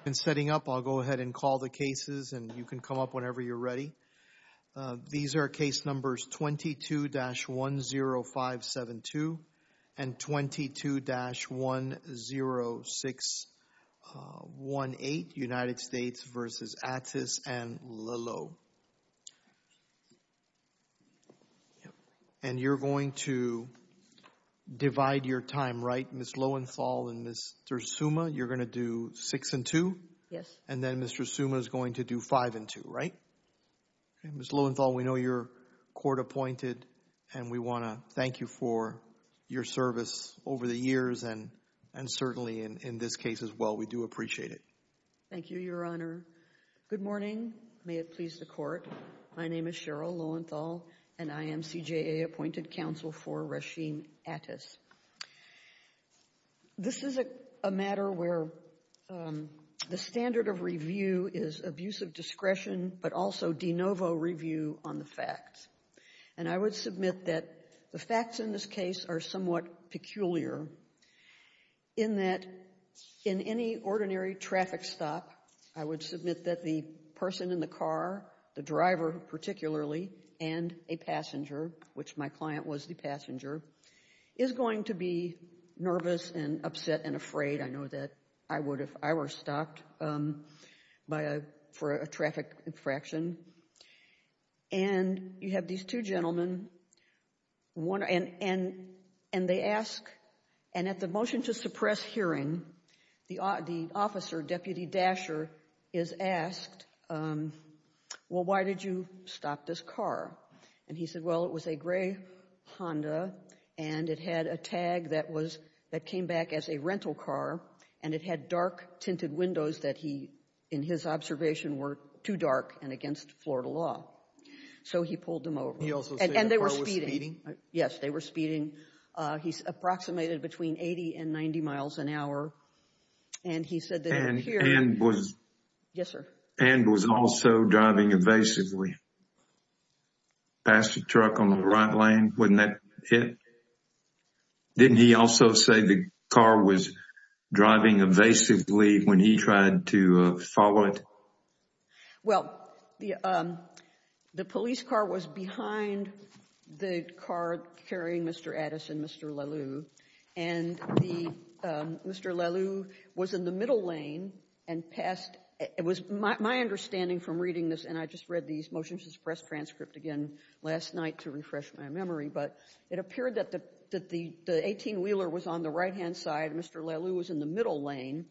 I've been setting up, I'll go ahead and call the cases. And you can come up whenever you're ready. These are case numbers 22-10572 and 22-10618, United States versus Attis and Lillow. And you're going to divide your time, right? Ms. Lowenthal and Mr. Suma, you're going to do six and two? Yes. And then Mr. Suma is going to do five and two, right? Ms. Lowenthal, we know you're court appointed and we want to thank you for your service over the years and certainly in this case as well. We do appreciate it. Thank you, Your Honor. Good morning. May it please the court. My name is Cheryl Lowenthal and I am CJA appointed counsel for Rasheem Attis. This is a matter where the standard of review is abuse of discretion but also de novo review on the facts. And I would submit that the facts in this case are somewhat peculiar in that in any ordinary traffic stop, I would submit that the person in the car, the driver particularly and a passenger, which my client was the passenger, is going to be nervous and upset and afraid. I know that I would if I were stopped for a traffic infraction. And you have these two gentlemen and they ask, and at the motion to suppress hearing, the officer, Deputy Dasher, is asked, well, why did you stop this car? And he said, well, it was a gray Honda and it had a tag that was, that came back as a rental car and it had dark tinted windows that he, in his observation, were too dark and against Florida law. So he pulled them over. He also said the car was speeding? And they were speeding. Yes, they were speeding. He's approximated between 80 and 90 miles an hour. And he said that it appeared... And was... Yes, sir. And was also driving evasively past the truck on the right lane when that hit? Didn't he also say the car was driving evasively when he tried to follow it? Well, the police car was behind the car carrying Mr. Addis and Mr. Leleau, and Mr. Leleau was in the middle lane and passed. It was my understanding from reading this, and I just read these motions to suppress transcript again last night to refresh my memory, but it appeared that the 18-wheeler was on the right-hand side, Mr. Leleau was in the middle lane,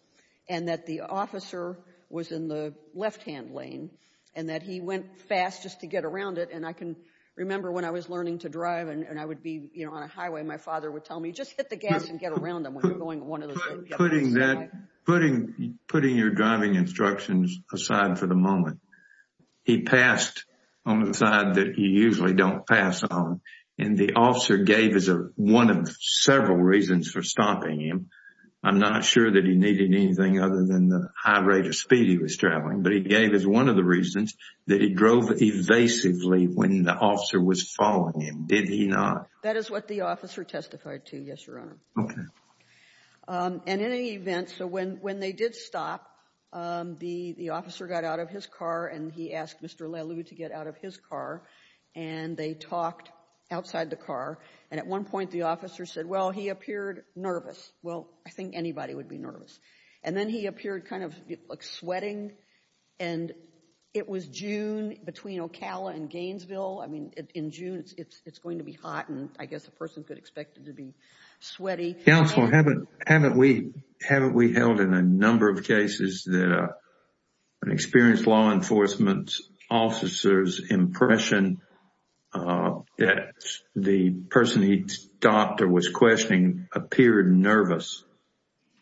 and that the officer was in the left-hand lane, and that he went fast just to get around it. And I can remember when I was learning to drive and I would be, you know, on a highway, my father would tell me, just hit the gas and get around them when you're going one of those... Putting that... Putting... Putting your driving instructions aside for the moment. He passed on the side that you usually don't pass on, and the officer gave us one of several reasons for stopping him. I'm not sure that he needed anything other than the high rate of speed he was traveling, but he gave us one of the reasons that he drove evasively when the officer was following him. Did he not? That is what the officer testified to, yes, Your Honor. Okay. And in any event, so when they did stop, the officer got out of his car and he asked Mr. Leleau to get out of his car, and they talked outside the car, and at one point the officer said, well, he appeared nervous. Well, I think anybody would be nervous. And then he appeared kind of, like, sweating, and it was June between Ocala and Gainesville. I mean, in June, it's going to be hot, and I guess a person could expect it to be sweaty. Counsel, haven't we held in a number of cases that an experienced law enforcement officer's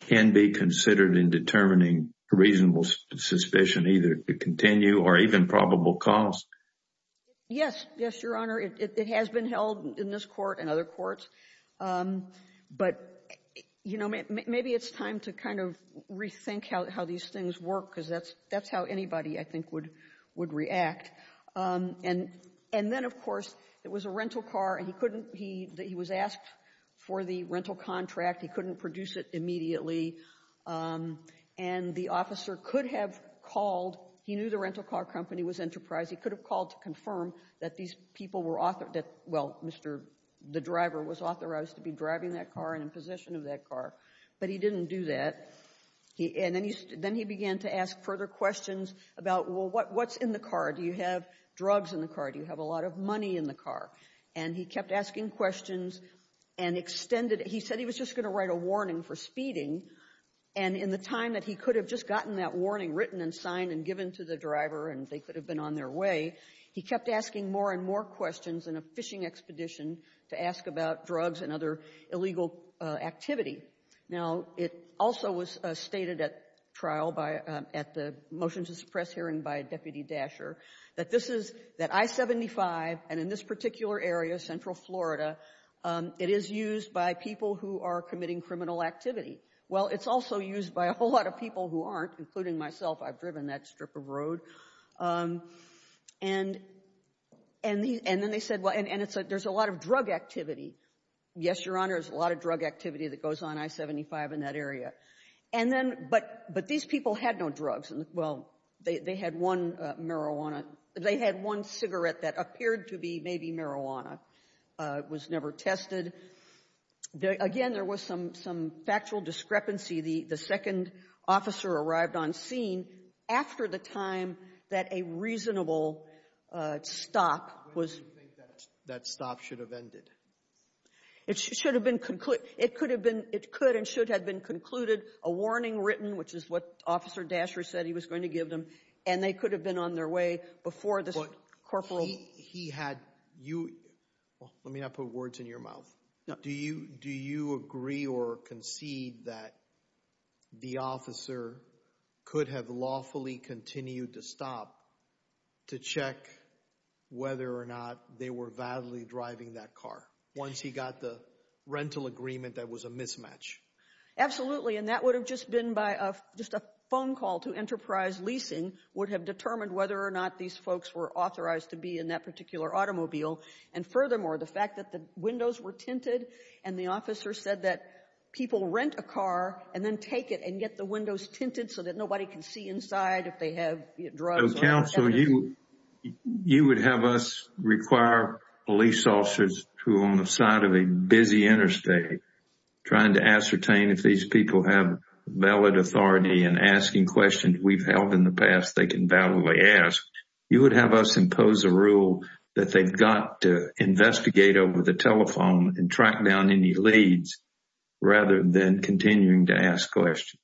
can be considered in determining reasonable suspicion either to continue or even probable cause? Yes. Yes, Your Honor. It has been held in this court and other courts, but, you know, maybe it's time to kind of rethink how these things work, because that's how anybody, I think, would react. And then, of course, it was a rental car, and he was asked for the rental contract. He couldn't produce it immediately, and the officer could have called. He knew the rental car company was Enterprise. He could have called to confirm that these people were authored, that, well, Mr. The driver was authorized to be driving that car and in possession of that car, but he didn't do that. And then he began to ask further questions about, well, what's in the car? Do you have drugs in the car? Do you have a lot of money in the car? And he kept asking questions and extended it. And he said he was just going to write a warning for speeding. And in the time that he could have just gotten that warning written and signed and given to the driver and they could have been on their way, he kept asking more and more questions in a fishing expedition to ask about drugs and other illegal activity. Now, it also was stated at trial by at the motions of suppress hearing by Deputy Dasher that this is, that I-75, and in this particular area, Central Florida, it is used by people who are committing criminal activity. Well, it's also used by a whole lot of people who aren't, including myself. I've driven that strip of road. And then they said, well, and it's a, there's a lot of drug activity. Yes, Your Honor, there's a lot of drug activity that goes on I-75 in that area. And then, but these people had no drugs. Well, they had one marijuana, they had one cigarette that appeared to be maybe marijuana. It was never tested. Again, there was some factual discrepancy. The second officer arrived on scene after the time that a reasonable stop was. When do you think that stop should have ended? It should have been, it could have been, it could and should have been concluded, a warning written, which is what Officer Dasher said he was going to give them. And they could have been on their way before the corporal. He had, you, let me not put words in your mouth. Do you agree or concede that the officer could have lawfully continued to stop to check whether or not they were validly driving that car once he got the rental agreement that was a mismatch? Absolutely. And that would have just been by a, just a phone call to Enterprise Leasing would have determined whether or not these folks were authorized to be in that particular automobile. And furthermore, the fact that the windows were tinted and the officer said that people rent a car and then take it and get the windows tinted so that nobody can see inside if they have drugs. So, counsel, you, you would have us require police officers who are on the side of a busy interstate trying to ascertain if these people have valid authority and asking questions we've held in the past, they can validly ask. You would have us impose a rule that they've got to investigate over the telephone and track down any leads rather than continuing to ask questions.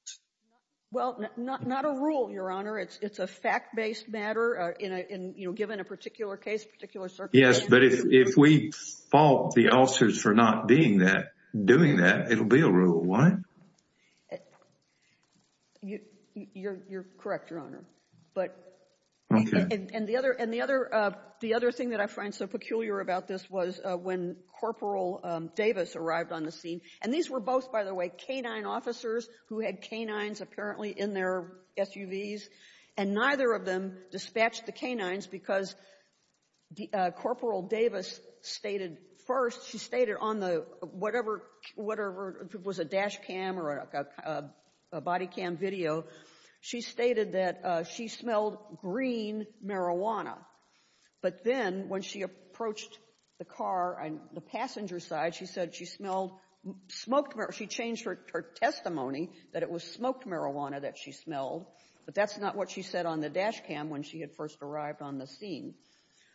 Well, not a rule, your honor. It's a fact-based matter in a, in, you know, given a particular case, particular circumstances. Yes, but if, if we fault the officers for not being that, doing that, it'll be a rule. Why? You, you're, you're correct, your honor. But and the other, and the other, the other thing that I find so peculiar about this was when Corporal Davis arrived on the scene, and these were both, by the way, canine officers who had canines apparently in their SUVs, and neither of them dispatched the canines because Corporal Davis stated first, she stated on the, whatever, whatever, if it was a dash cam or a, a body cam video, she stated that she smelled green marijuana. But then when she approached the car on the passenger side, she said she smelled smoked marijuana. She changed her testimony that it was smoked marijuana that she smelled, but that's not what she said on the dash cam when she had first arrived on the scene.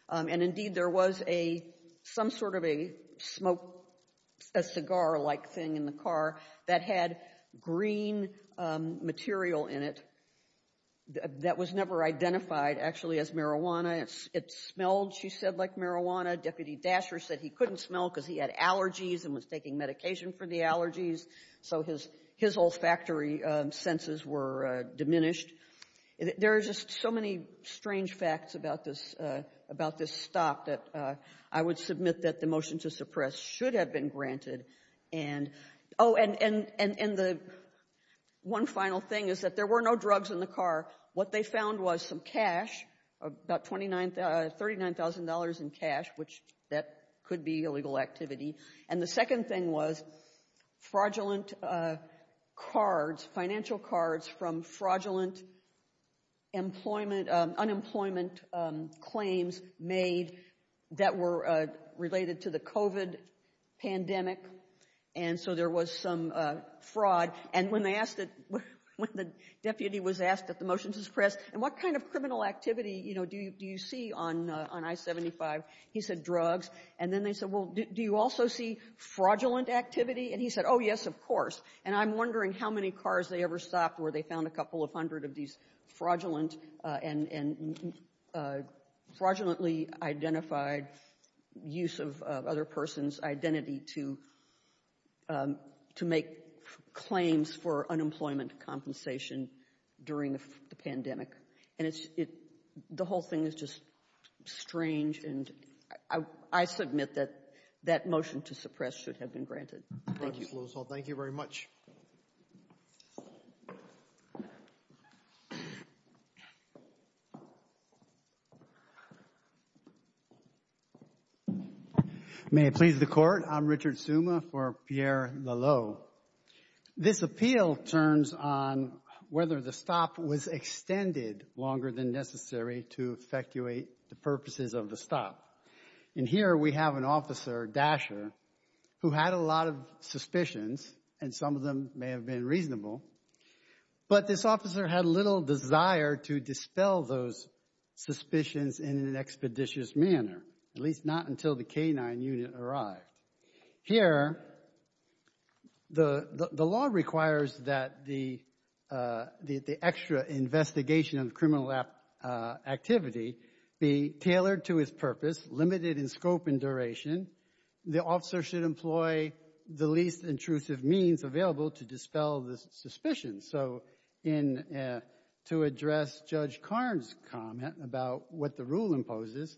And indeed, there was a, some sort of a smoke, a cigar-like thing in the car that had green material in it that was never identified actually as marijuana. It smelled, she said, like marijuana. Deputy Dasher said he couldn't smell because he had allergies and was taking medication for the allergies, so his, his olfactory senses were diminished. There are just so many strange facts about this, about this stop that I would submit that the motion to suppress should have been granted, and, oh, and, and, and, and the one final thing is that there were no drugs in the car. What they found was some cash, about 29, $39,000 in cash, which that could be illegal activity. And the second thing was fraudulent cards, financial cards from fraudulent employment, unemployment claims made that were related to the COVID pandemic. And so there was some fraud. And when they asked it, when the deputy was asked at the motion to suppress, and what kind of criminal activity, you know, do you see on I-75, he said drugs. And then they said, well, do you also see fraudulent activity? And he said, oh, yes, of course. And I'm wondering how many cars they ever stopped where they found a couple of hundred of these fraudulent and, and fraudulently identified use of other person's identity to, to make claims for unemployment compensation during the pandemic. And it's, it, the whole thing is just strange. And I, I submit that that motion to suppress should have been granted. Thank you. Thank you very much. May it please the Court. I'm Richard Suma for Pierre Lallot. So, this appeal turns on whether the stop was extended longer than necessary to effectuate the purposes of the stop. And here we have an officer, Dasher, who had a lot of suspicions, and some of them may have been reasonable. But this officer had little desire to dispel those suspicions in an expeditious manner, at least not until the K-9 unit arrived. Here, the, the law requires that the, the extra investigation of criminal activity be tailored to its purpose, limited in scope and duration. The officer should employ the least intrusive means available to dispel the suspicions. So in, to address Judge Karn's comment about what the rule imposes,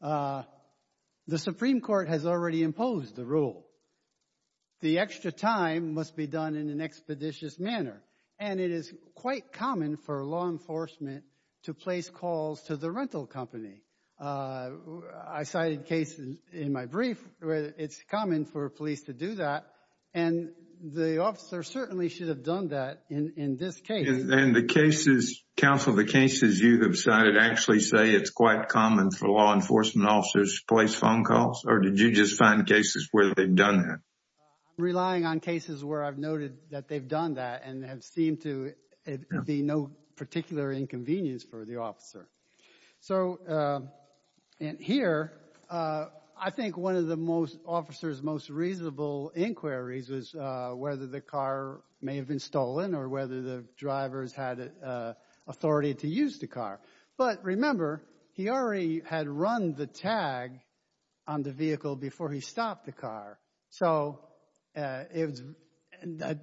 the Supreme Court has already imposed the rule. The extra time must be done in an expeditious manner. And it is quite common for law enforcement to place calls to the rental company. I cited cases in my brief where it's common for police to do that, and the officer certainly should have done that in, in this case. And the cases, counsel, the cases you have cited actually say it's quite common for law enforcement to just find cases where they've done that. I'm relying on cases where I've noted that they've done that and have seemed to be no particular inconvenience for the officer. So in here, I think one of the most, officer's most reasonable inquiries was whether the car may have been stolen or whether the drivers had authority to use the car. But remember, he already had run the tag on the vehicle before he stopped the car. So it was,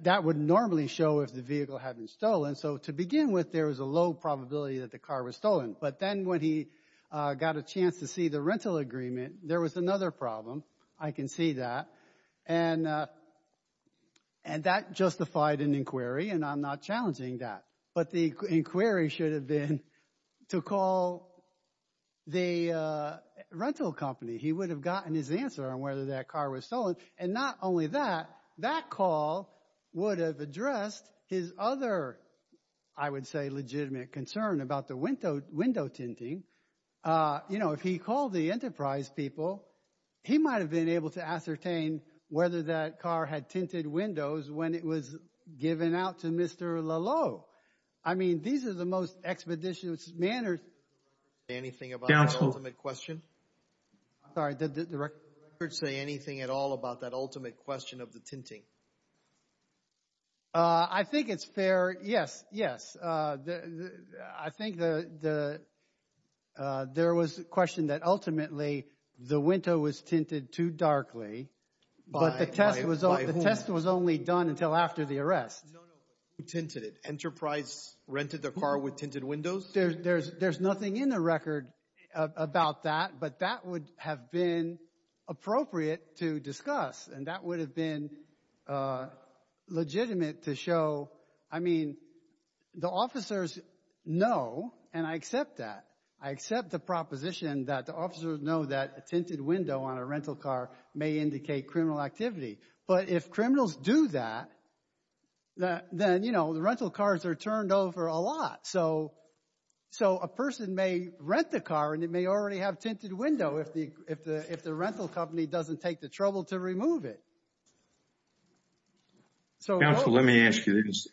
that would normally show if the vehicle had been stolen. So to begin with, there was a low probability that the car was stolen. But then when he got a chance to see the rental agreement, there was another problem. I can see that. And that justified an inquiry, and I'm not challenging that. But the inquiry should have been to call the rental company. He would have gotten his answer on whether that car was stolen. And not only that, that call would have addressed his other, I would say, legitimate concern about the window tinting. You know, if he called the enterprise people, he might have been able to ascertain whether that car had tinted windows when it was given out to Mr. Lalo. I mean, these are the most expeditious manners. Anything about the ultimate question? Sorry, did the record say anything at all about that ultimate question of the tinting? I think it's fair, yes, yes. I think the, there was a question that ultimately, the window was tinted too darkly. But the test was only done until after the arrest. No, no, but who tinted it? Enterprise rented the car with tinted windows? There's nothing in the record about that. But that would have been appropriate to discuss, and that would have been legitimate to show. I mean, the officers know, and I accept that. I accept the proposition that the officers know that a tinted window on a rental car may indicate criminal activity. But if criminals do that, then, you know, the rental cars are turned over a lot. So, so a person may rent the car, and it may already have tinted window if the rental company doesn't take the trouble to remove it. Counsel, let me ask you this.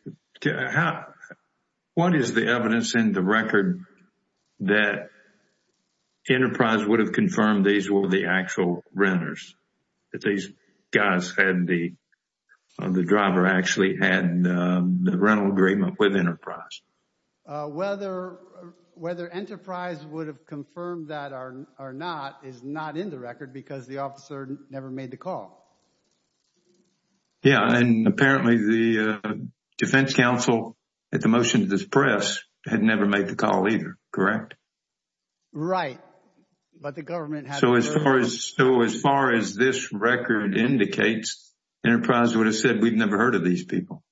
What is the evidence in the record that Enterprise would have confirmed these were the actual renters? That these guys had the, the driver actually had the rental agreement with Enterprise? Whether, whether Enterprise would have confirmed that or not is not in the record because the officer never made the call. Yeah, and apparently the defense counsel at the motion to this press had never made the call either, correct? Right, but the government had the burden. So as far as, so as far as this record indicates, Enterprise would have said we've never heard of these people.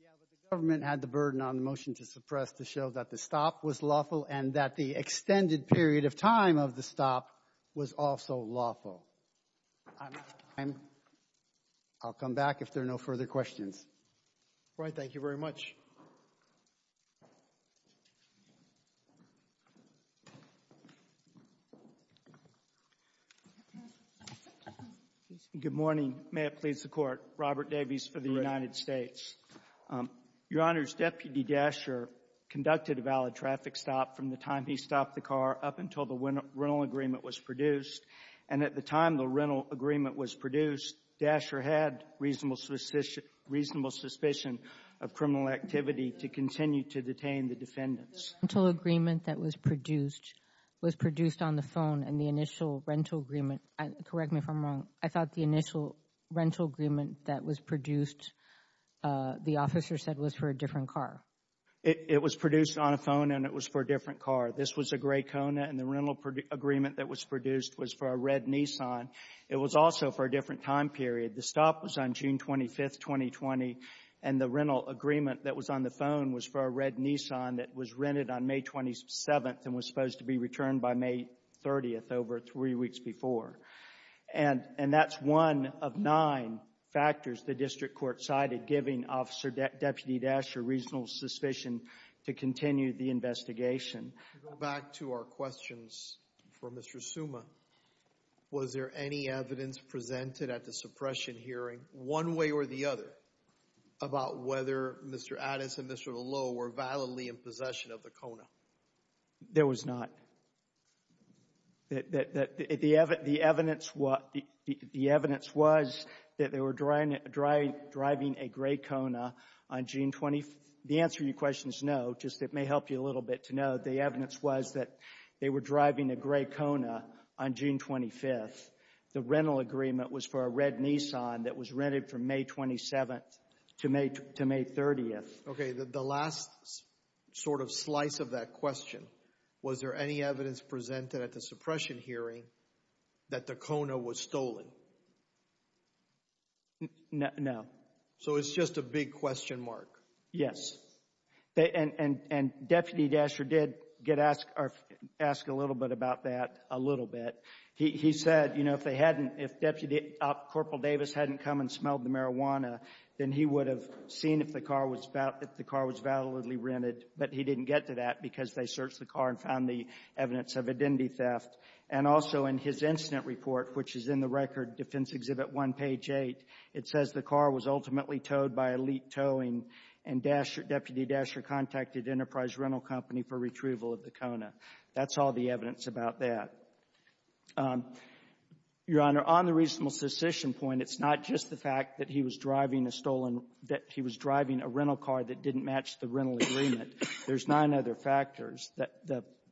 Yeah, but the government had the burden on the motion to suppress to show that the stop was lawful and that the extended period of time of the stop was also lawful. I'll come back if there are no further questions. Right, thank you very much. Robert Davies, U.S. Attorney Good morning. May it please the Court. Robert Davies for the United States. Your Honor, Deputy Dasher conducted a valid traffic stop from the time he stopped the car up until the rental agreement was produced. And at the time the rental agreement was produced, Dasher had reasonable suspicion of criminal activity to continue to detain the defendants. The rental agreement that was produced was produced on the phone and the initial rental agreement, correct me if I'm wrong, I thought the initial rental agreement that was produced, the officer said was for a different car. It was produced on a phone and it was for a different car. This was a gray Kona and the rental agreement that was produced was for a red Nissan. It was also for a different time period. The stop was on June 25th, 2020 and the rental agreement that was on the phone was for a red Nissan that was rented on May 27th and was supposed to be returned by May 30th, over three weeks before. And that's one of nine factors the district court cited giving Officer Deputy Dasher reasonable suspicion to continue the investigation. To go back to our questions for Mr. Suma, was there any evidence presented at the suppression hearing, one way or the other? About whether Mr. Addis and Mr. Lowe were violently in possession of the Kona. There was not. The evidence was that they were driving a gray Kona on June 25th. The answer to your question is no, just it may help you a little bit to know, the evidence was that they were driving a gray Kona on June 25th. The rental agreement was for a red Nissan that was rented from May 27th to May 30th. Okay, the last sort of slice of that question, was there any evidence presented at the suppression hearing that the Kona was stolen? No. So, it's just a big question mark. Yes, and Deputy Dasher did ask a little bit about that, a little bit. He said, you know, if they hadn't, if Deputy Corporal Davis hadn't come and smelled the marijuana, then he would have seen if the car was validly rented, but he didn't get to that because they searched the car and found the evidence of identity theft. And also, in his incident report, which is in the record, Defense Exhibit 1, page 8, it says the car was ultimately towed by elite towing and Deputy Dasher contacted Enterprise Rental Company for retrieval of the Kona. That's all the evidence about that. Your Honor, on the reasonable secession point, it's not just the fact that he was driving a stolen, that he was driving a rental car that didn't match the rental agreement. There's nine other factors.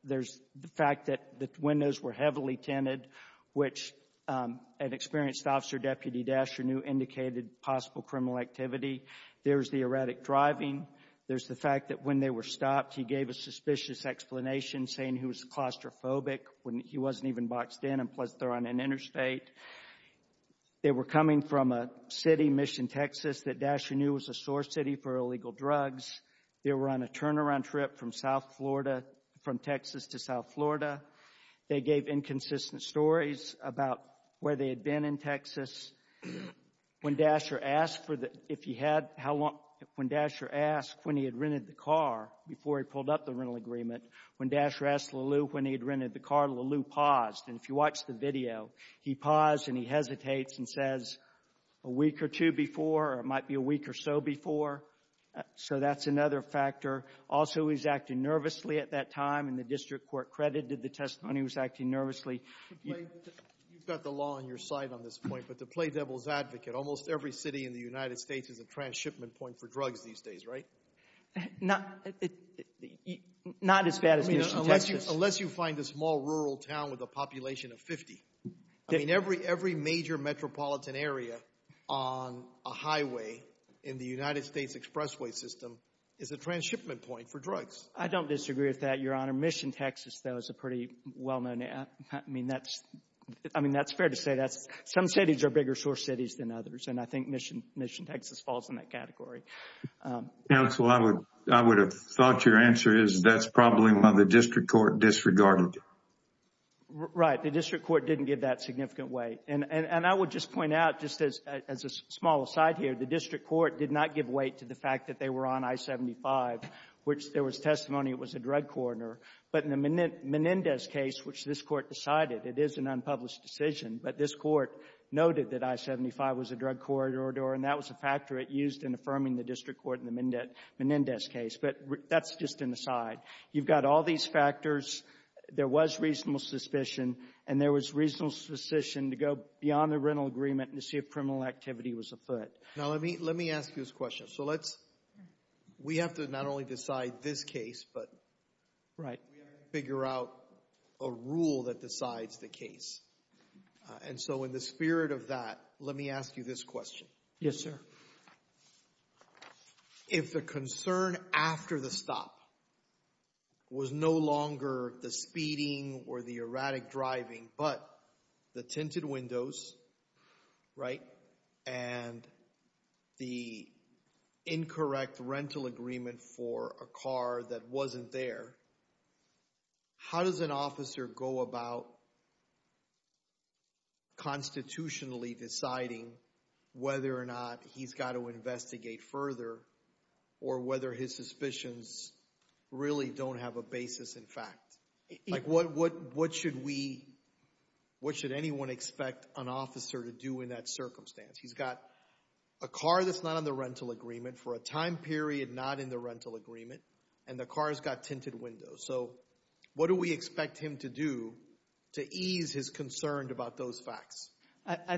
There's the fact that the windows were heavily tinted, which an experienced officer, Deputy Dasher, knew indicated possible criminal activity. There's the erratic driving. There's the fact that when they were stopped, he gave a suspicious explanation saying he was claustrophobic when he wasn't even boxed in, and plus they're on an interstate. They were coming from a city, Mission, Texas, that Dasher knew was a source city for illegal drugs. They were on a turnaround trip from South Florida, from Texas to South Florida. They gave inconsistent stories about where they had been in Texas. When Dasher asked for the, if he had, how long, when Dasher asked when he had rented the car before he pulled up the rental agreement, when Dasher asked Lelew when he had rented the car, Lelew paused, and if you watch the video, he paused and he hesitates and says, a week or two before, or it might be a week or so before. So that's another factor. Also, he was acting nervously at that time, and the district court credited the testimony. He was acting nervously. You've got the law on your side on this point, but to play devil's advocate, almost every city in the United States is a transshipment point for drugs these days, right? Not as bad as Mission, Texas. Unless you find a small rural town with a population of 50. I mean, every major metropolitan area on a highway in the United States expressway system is a transshipment point for drugs. I don't disagree with that, Your Honor. Mission, Texas, though, is a pretty well-known, I mean, that's, I mean, that's fair to say that's, some cities are bigger source cities than others, and I think Mission, Texas falls in that category. Counsel, I would have thought your answer is that's probably why the district court disregarded it. Right, the district court didn't give that significant weight. And I would just point out, just as a small aside here, the district court did not give weight to the fact that they were on I-75, which there was testimony it was a drug coroner. But in the Menendez case, which this court decided, it is an unpublished decision, but this court noted that I-75 was a drug corridor, and that was a factor it used in affirming the district court in the Menendez case. But that's just an aside. You've got all these factors. There was reasonable suspicion, and there was reasonable suspicion to go beyond the rental agreement and to see if criminal activity was afoot. Now, let me ask you this question. So let's, we have to not only decide this case, but we have to figure out a rule that decides the case. And so in the spirit of that, let me ask you this question. Yes, sir. If the concern after the stop was no longer the speeding or the erratic driving, but the tinted windows, right, and the incorrect rental agreement for a car that wasn't there, how does an officer go about constitutionally deciding whether or not he's got to investigate further or whether his suspicions really don't have a basis in fact? Like, what should we, what should anyone expect an officer to do in that circumstance? He's got a car that's not on the rental agreement for a time period not in the rental agreement, and the car's got tinted windows. So what do we expect him to do to ease his concern about those facts? I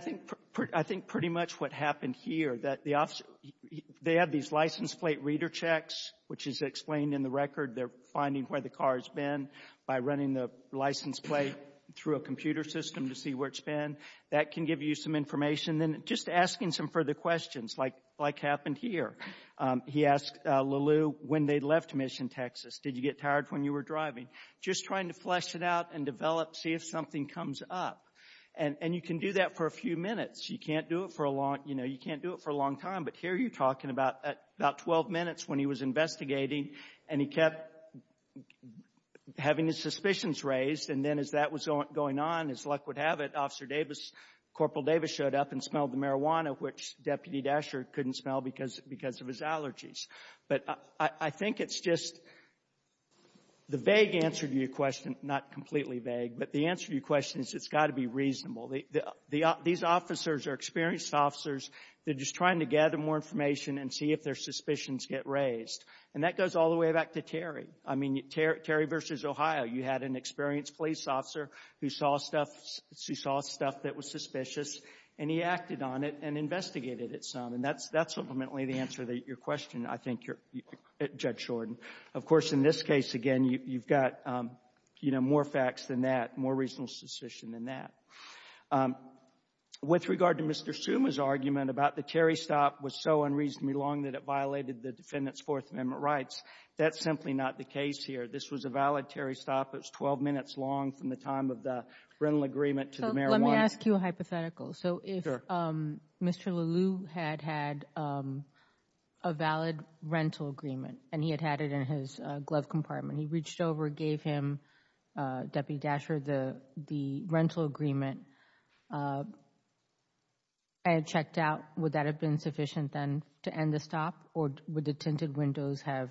think pretty much what happened here, that the officer, they have these license plate reader checks, which is explained in the record. They're finding where the car's been by running the license plate through a computer system to see where it's been. That can give you some information. Then just asking some further questions, like happened here. He asked Lalu when they left Mission, Texas, did you get tired when you were driving? Just trying to flesh it out and develop, see if something comes up. And you can do that for a few minutes. You can't do it for a long, you know, you can't do it for a long time. But here you're talking about 12 minutes when he was investigating, and he kept having his suspicions raised. And then as that was going on, as luck would have it, Officer Davis, Corporal Davis showed up and smelled the marijuana, which Deputy Dasher couldn't smell because of his allergies. But I think it's just, the vague answer to your question, not completely vague, but the answer to your question is it's got to be reasonable. These officers are experienced officers. They're just trying to gather more information and see if their suspicions get raised. And that goes all the way back to Terry. I mean, Terry versus Ohio. You had an experienced police officer who saw stuff that was suspicious, and he acted on it and investigated it some. And that's ultimately the answer to your question, I think, Judge Shorten. Of course, in this case, again, you've got more facts than that, more reasonable suspicion than that. With regard to Mr. Summa's argument about the Terry stop was so unreasonably long that it violated the defendant's Fourth Amendment rights, that's simply not the case here. This was a valid Terry stop. It was 12 minutes long from the time of the rental agreement to the marijuana. So let me ask you a hypothetical. So if Mr. Leleu had had a valid rental agreement and he had had it in his glove compartment, he reached over, gave him, Deputy Dasher, the rental agreement, and checked out, would that have been sufficient then to end the stop, or would the tinted windows have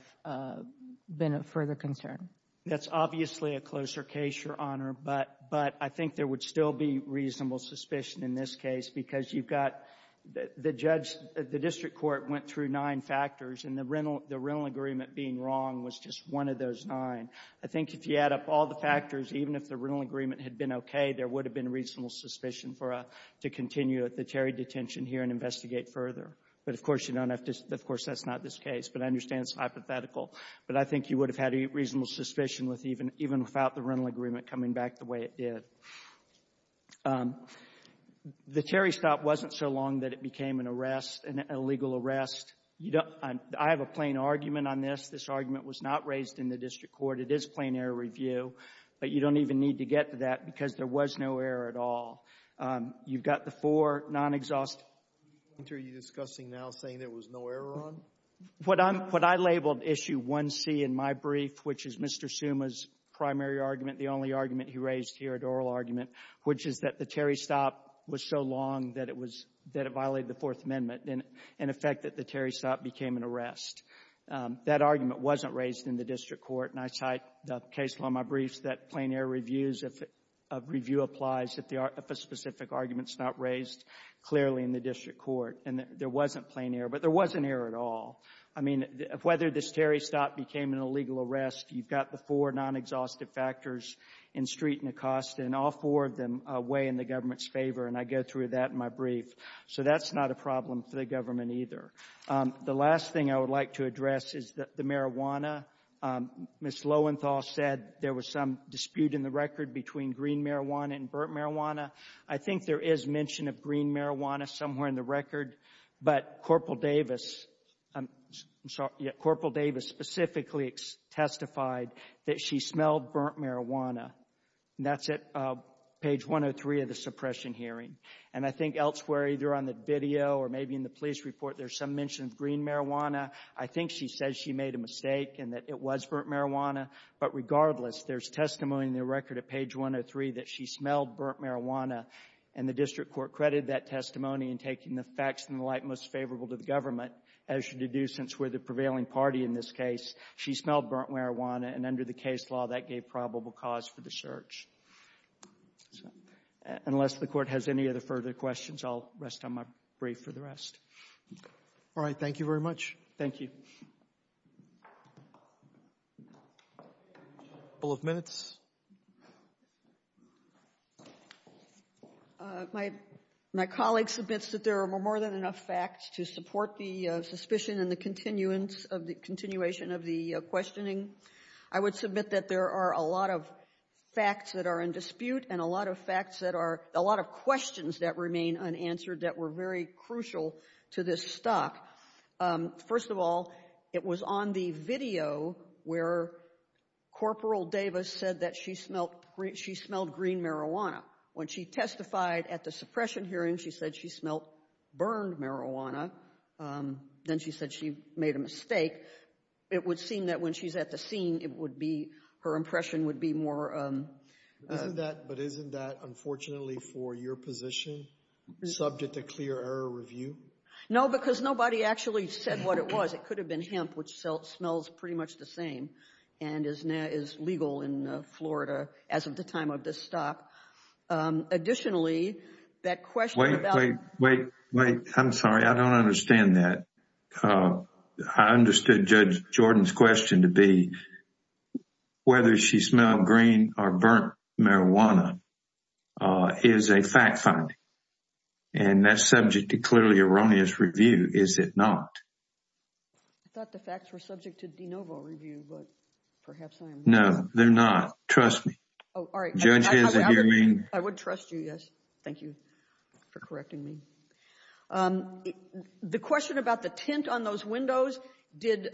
been a further concern? That's obviously a closer case, Your Honor, but I think there would still be reasonable suspicion in this case, because you've got the judge, the district court went through nine factors, and the rental agreement being wrong was just one of those nine. I think if you add up all the factors, even if the rental agreement had been okay, there would have been reasonable suspicion for a, to continue at the Terry detention here and investigate further. But of course, you don't have to, of course, that's not this case, but I understand it's hypothetical. But I think you would have had a reasonable suspicion with even, even without the rental agreement coming back the way it did. The Terry stop wasn't so long that it became an arrest, an illegal arrest. You don't, I have a plain argument on this. This argument was not raised in the district court. It is plain error review, but you don't even need to get to that because there was no error at all. You've got the four non-exhaust. Are you discussing now saying there was no error on? What I'm, what I labeled issue 1C in my brief, which is Mr. Summa's primary argument, the only argument he raised here, an oral argument, which is that the Terry stop was so long that it was, that it violated the Fourth Amendment, and in effect that the Terry stop became an arrest. That argument wasn't raised in the district court, and I cite the case law in my briefs that plain error reviews of review applies if a specific argument's not raised clearly in the district court. And there wasn't plain error, but there wasn't error at all. I mean, whether this Terry stop became an illegal arrest, you've got the four non-exhaustive factors in Street and Acosta, and all four of them weigh in the government's favor, and I go through that in my brief. So that's not a problem for the government either. The last thing I would like to address is the marijuana. Ms. Lowenthal said there was some dispute in the record between green marijuana and burnt marijuana. I think there is mention of green marijuana somewhere in the record, but Corporal Davis, I'm sorry, yeah, Corporal Davis specifically testified that she smelled burnt marijuana, and that's at page 103 of the suppression hearing. And I think elsewhere, either on the video or maybe in the police report, there's some mention of green marijuana. I think she says she made a mistake and that it was burnt marijuana. But regardless, there's testimony in the record at page 103 that she smelled burnt marijuana, and the district court credited that testimony in taking the facts in the light most favorable to the government, as you do since we're the prevailing party in this case. She smelled burnt marijuana, and under the case law, that gave probable cause for the search. Unless the court has any other further questions, I'll rest on my brief for the rest. All right, thank you very much. Thank you. Couple of minutes. My colleague submits that there are more than enough facts to support the suspicion and the continuation of the questioning. I would submit that there are a lot of facts that are in dispute, and a lot of facts that are, a lot of questions that remain unanswered that were very crucial to this stock. First of all, it was on the video where Corporal Davis said that she smelled green marijuana. When she testified at the suppression hearing, she said she smelled burned marijuana. Then she said she made a mistake. It would seem that when she's at the scene, it would be, her impression would be more. But isn't that, unfortunately, for your position, subject to clear error review? No, because nobody actually said what it was. It could have been hemp, which smells pretty much the same, and is legal in Florida as of the time of this stop. Additionally, that question about- Wait, wait, wait, wait. I'm sorry, I don't understand that. I understood Judge Jordan's question to be whether she smelled green or burnt marijuana is a fact finding, and that's subject to clearly erroneous review, is it not? I thought the facts were subject to de novo review, but perhaps I am- No, they're not. Trust me. Oh, all right. I would trust you, yes. Thank you for correcting me. The question about the tint on those windows, did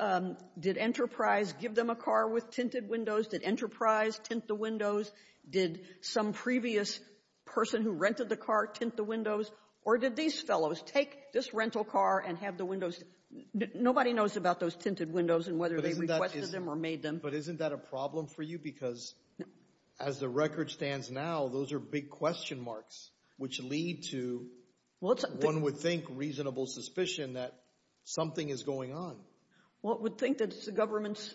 Enterprise give them a car with tinted windows? Did Enterprise tint the windows? Did some previous person who rented the car tint the windows? Or did these fellows take this rental car and have the windows- Nobody knows about those tinted windows and whether they requested them or made them. But isn't that a problem for you? Because as the record stands now, those are big question marks, which lead to, one would think, reasonable suspicion that something is going on. Well, it would think that it's the government's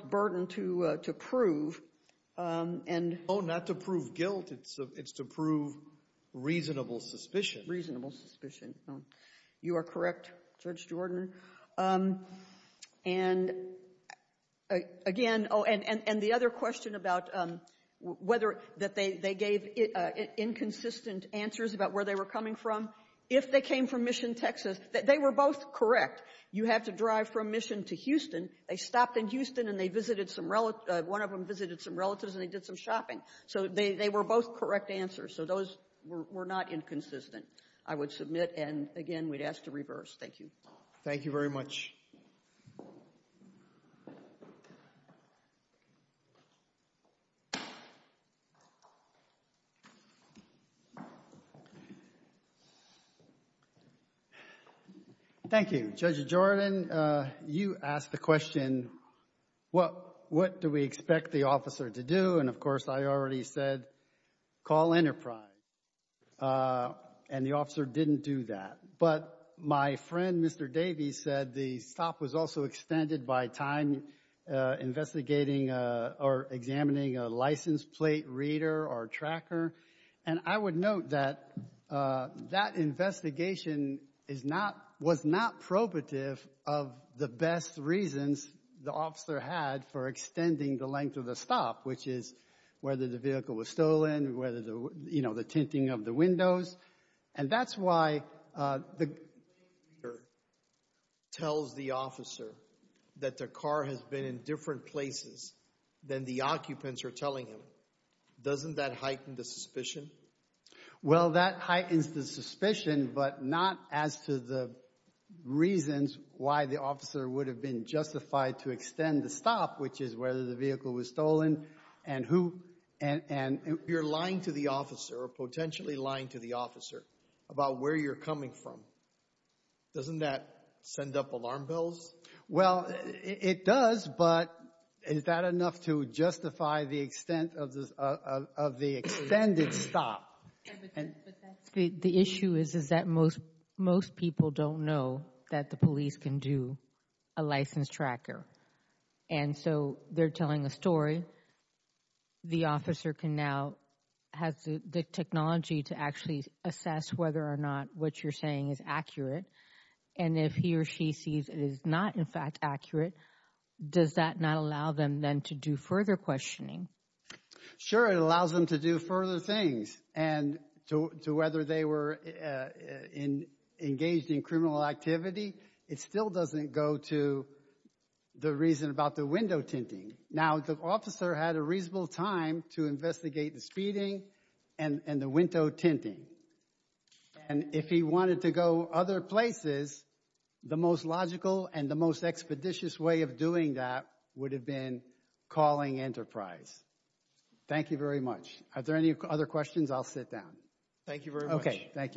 burden to prove and- Oh, not to prove guilt. It's to prove reasonable suspicion. Reasonable suspicion. You are correct, Judge Jordan. And again, oh, and the other question about whether that they gave inconsistent answers about where they were coming from. If they came from Mission, Texas, they were both correct. You have to drive from Mission to Houston. They stopped in Houston and they visited some- One of them visited some relatives and they did some shopping. So they were both correct answers. So those were not inconsistent, I would submit. And again, we'd ask to reverse. Thank you. Thank you very much. Thank you, Judge Jordan. You asked the question, what do we expect the officer to do? And of course, I already said, call Enterprise. And the officer didn't do that. But my friend, Mr. Davies, said the stop was also extended by time investigating or examining a license plate reader or tracker. And I would note that that investigation was not probative of the best reasons the officer had for extending the length of the stop, which is whether the vehicle was stolen, whether the tinting of the windows. And that's why the plate reader tells the officer that the car has been in different places than the occupants are telling him. Well, that heightens the suspicion, but not as to the reasons why the officer would have been justified to extend the stop, which is whether the vehicle was stolen and who. And you're lying to the officer, or potentially lying to the officer, about where you're coming from. Doesn't that send up alarm bells? Well, it does, but is that enough to justify the extent of the extended stop? But the issue is that most people don't know that the police can do a license tracker. And so they're telling a story. The officer can now, has the technology to actually assess whether or not what you're saying is accurate. And if he or she sees it is not, in fact, accurate, does that not allow them then to do further questioning? Sure, it allows them to do further things. And to whether they were engaged in criminal activity, it still doesn't go to the reason about the window tinting. Now, the officer had a reasonable time to investigate the speeding and the window tinting. And if he wanted to go other places, the most logical and the most expeditious way of doing that would have been calling Enterprise. Thank you very much. Are there any other questions? I'll sit down. Thank you very much. Okay, thank you.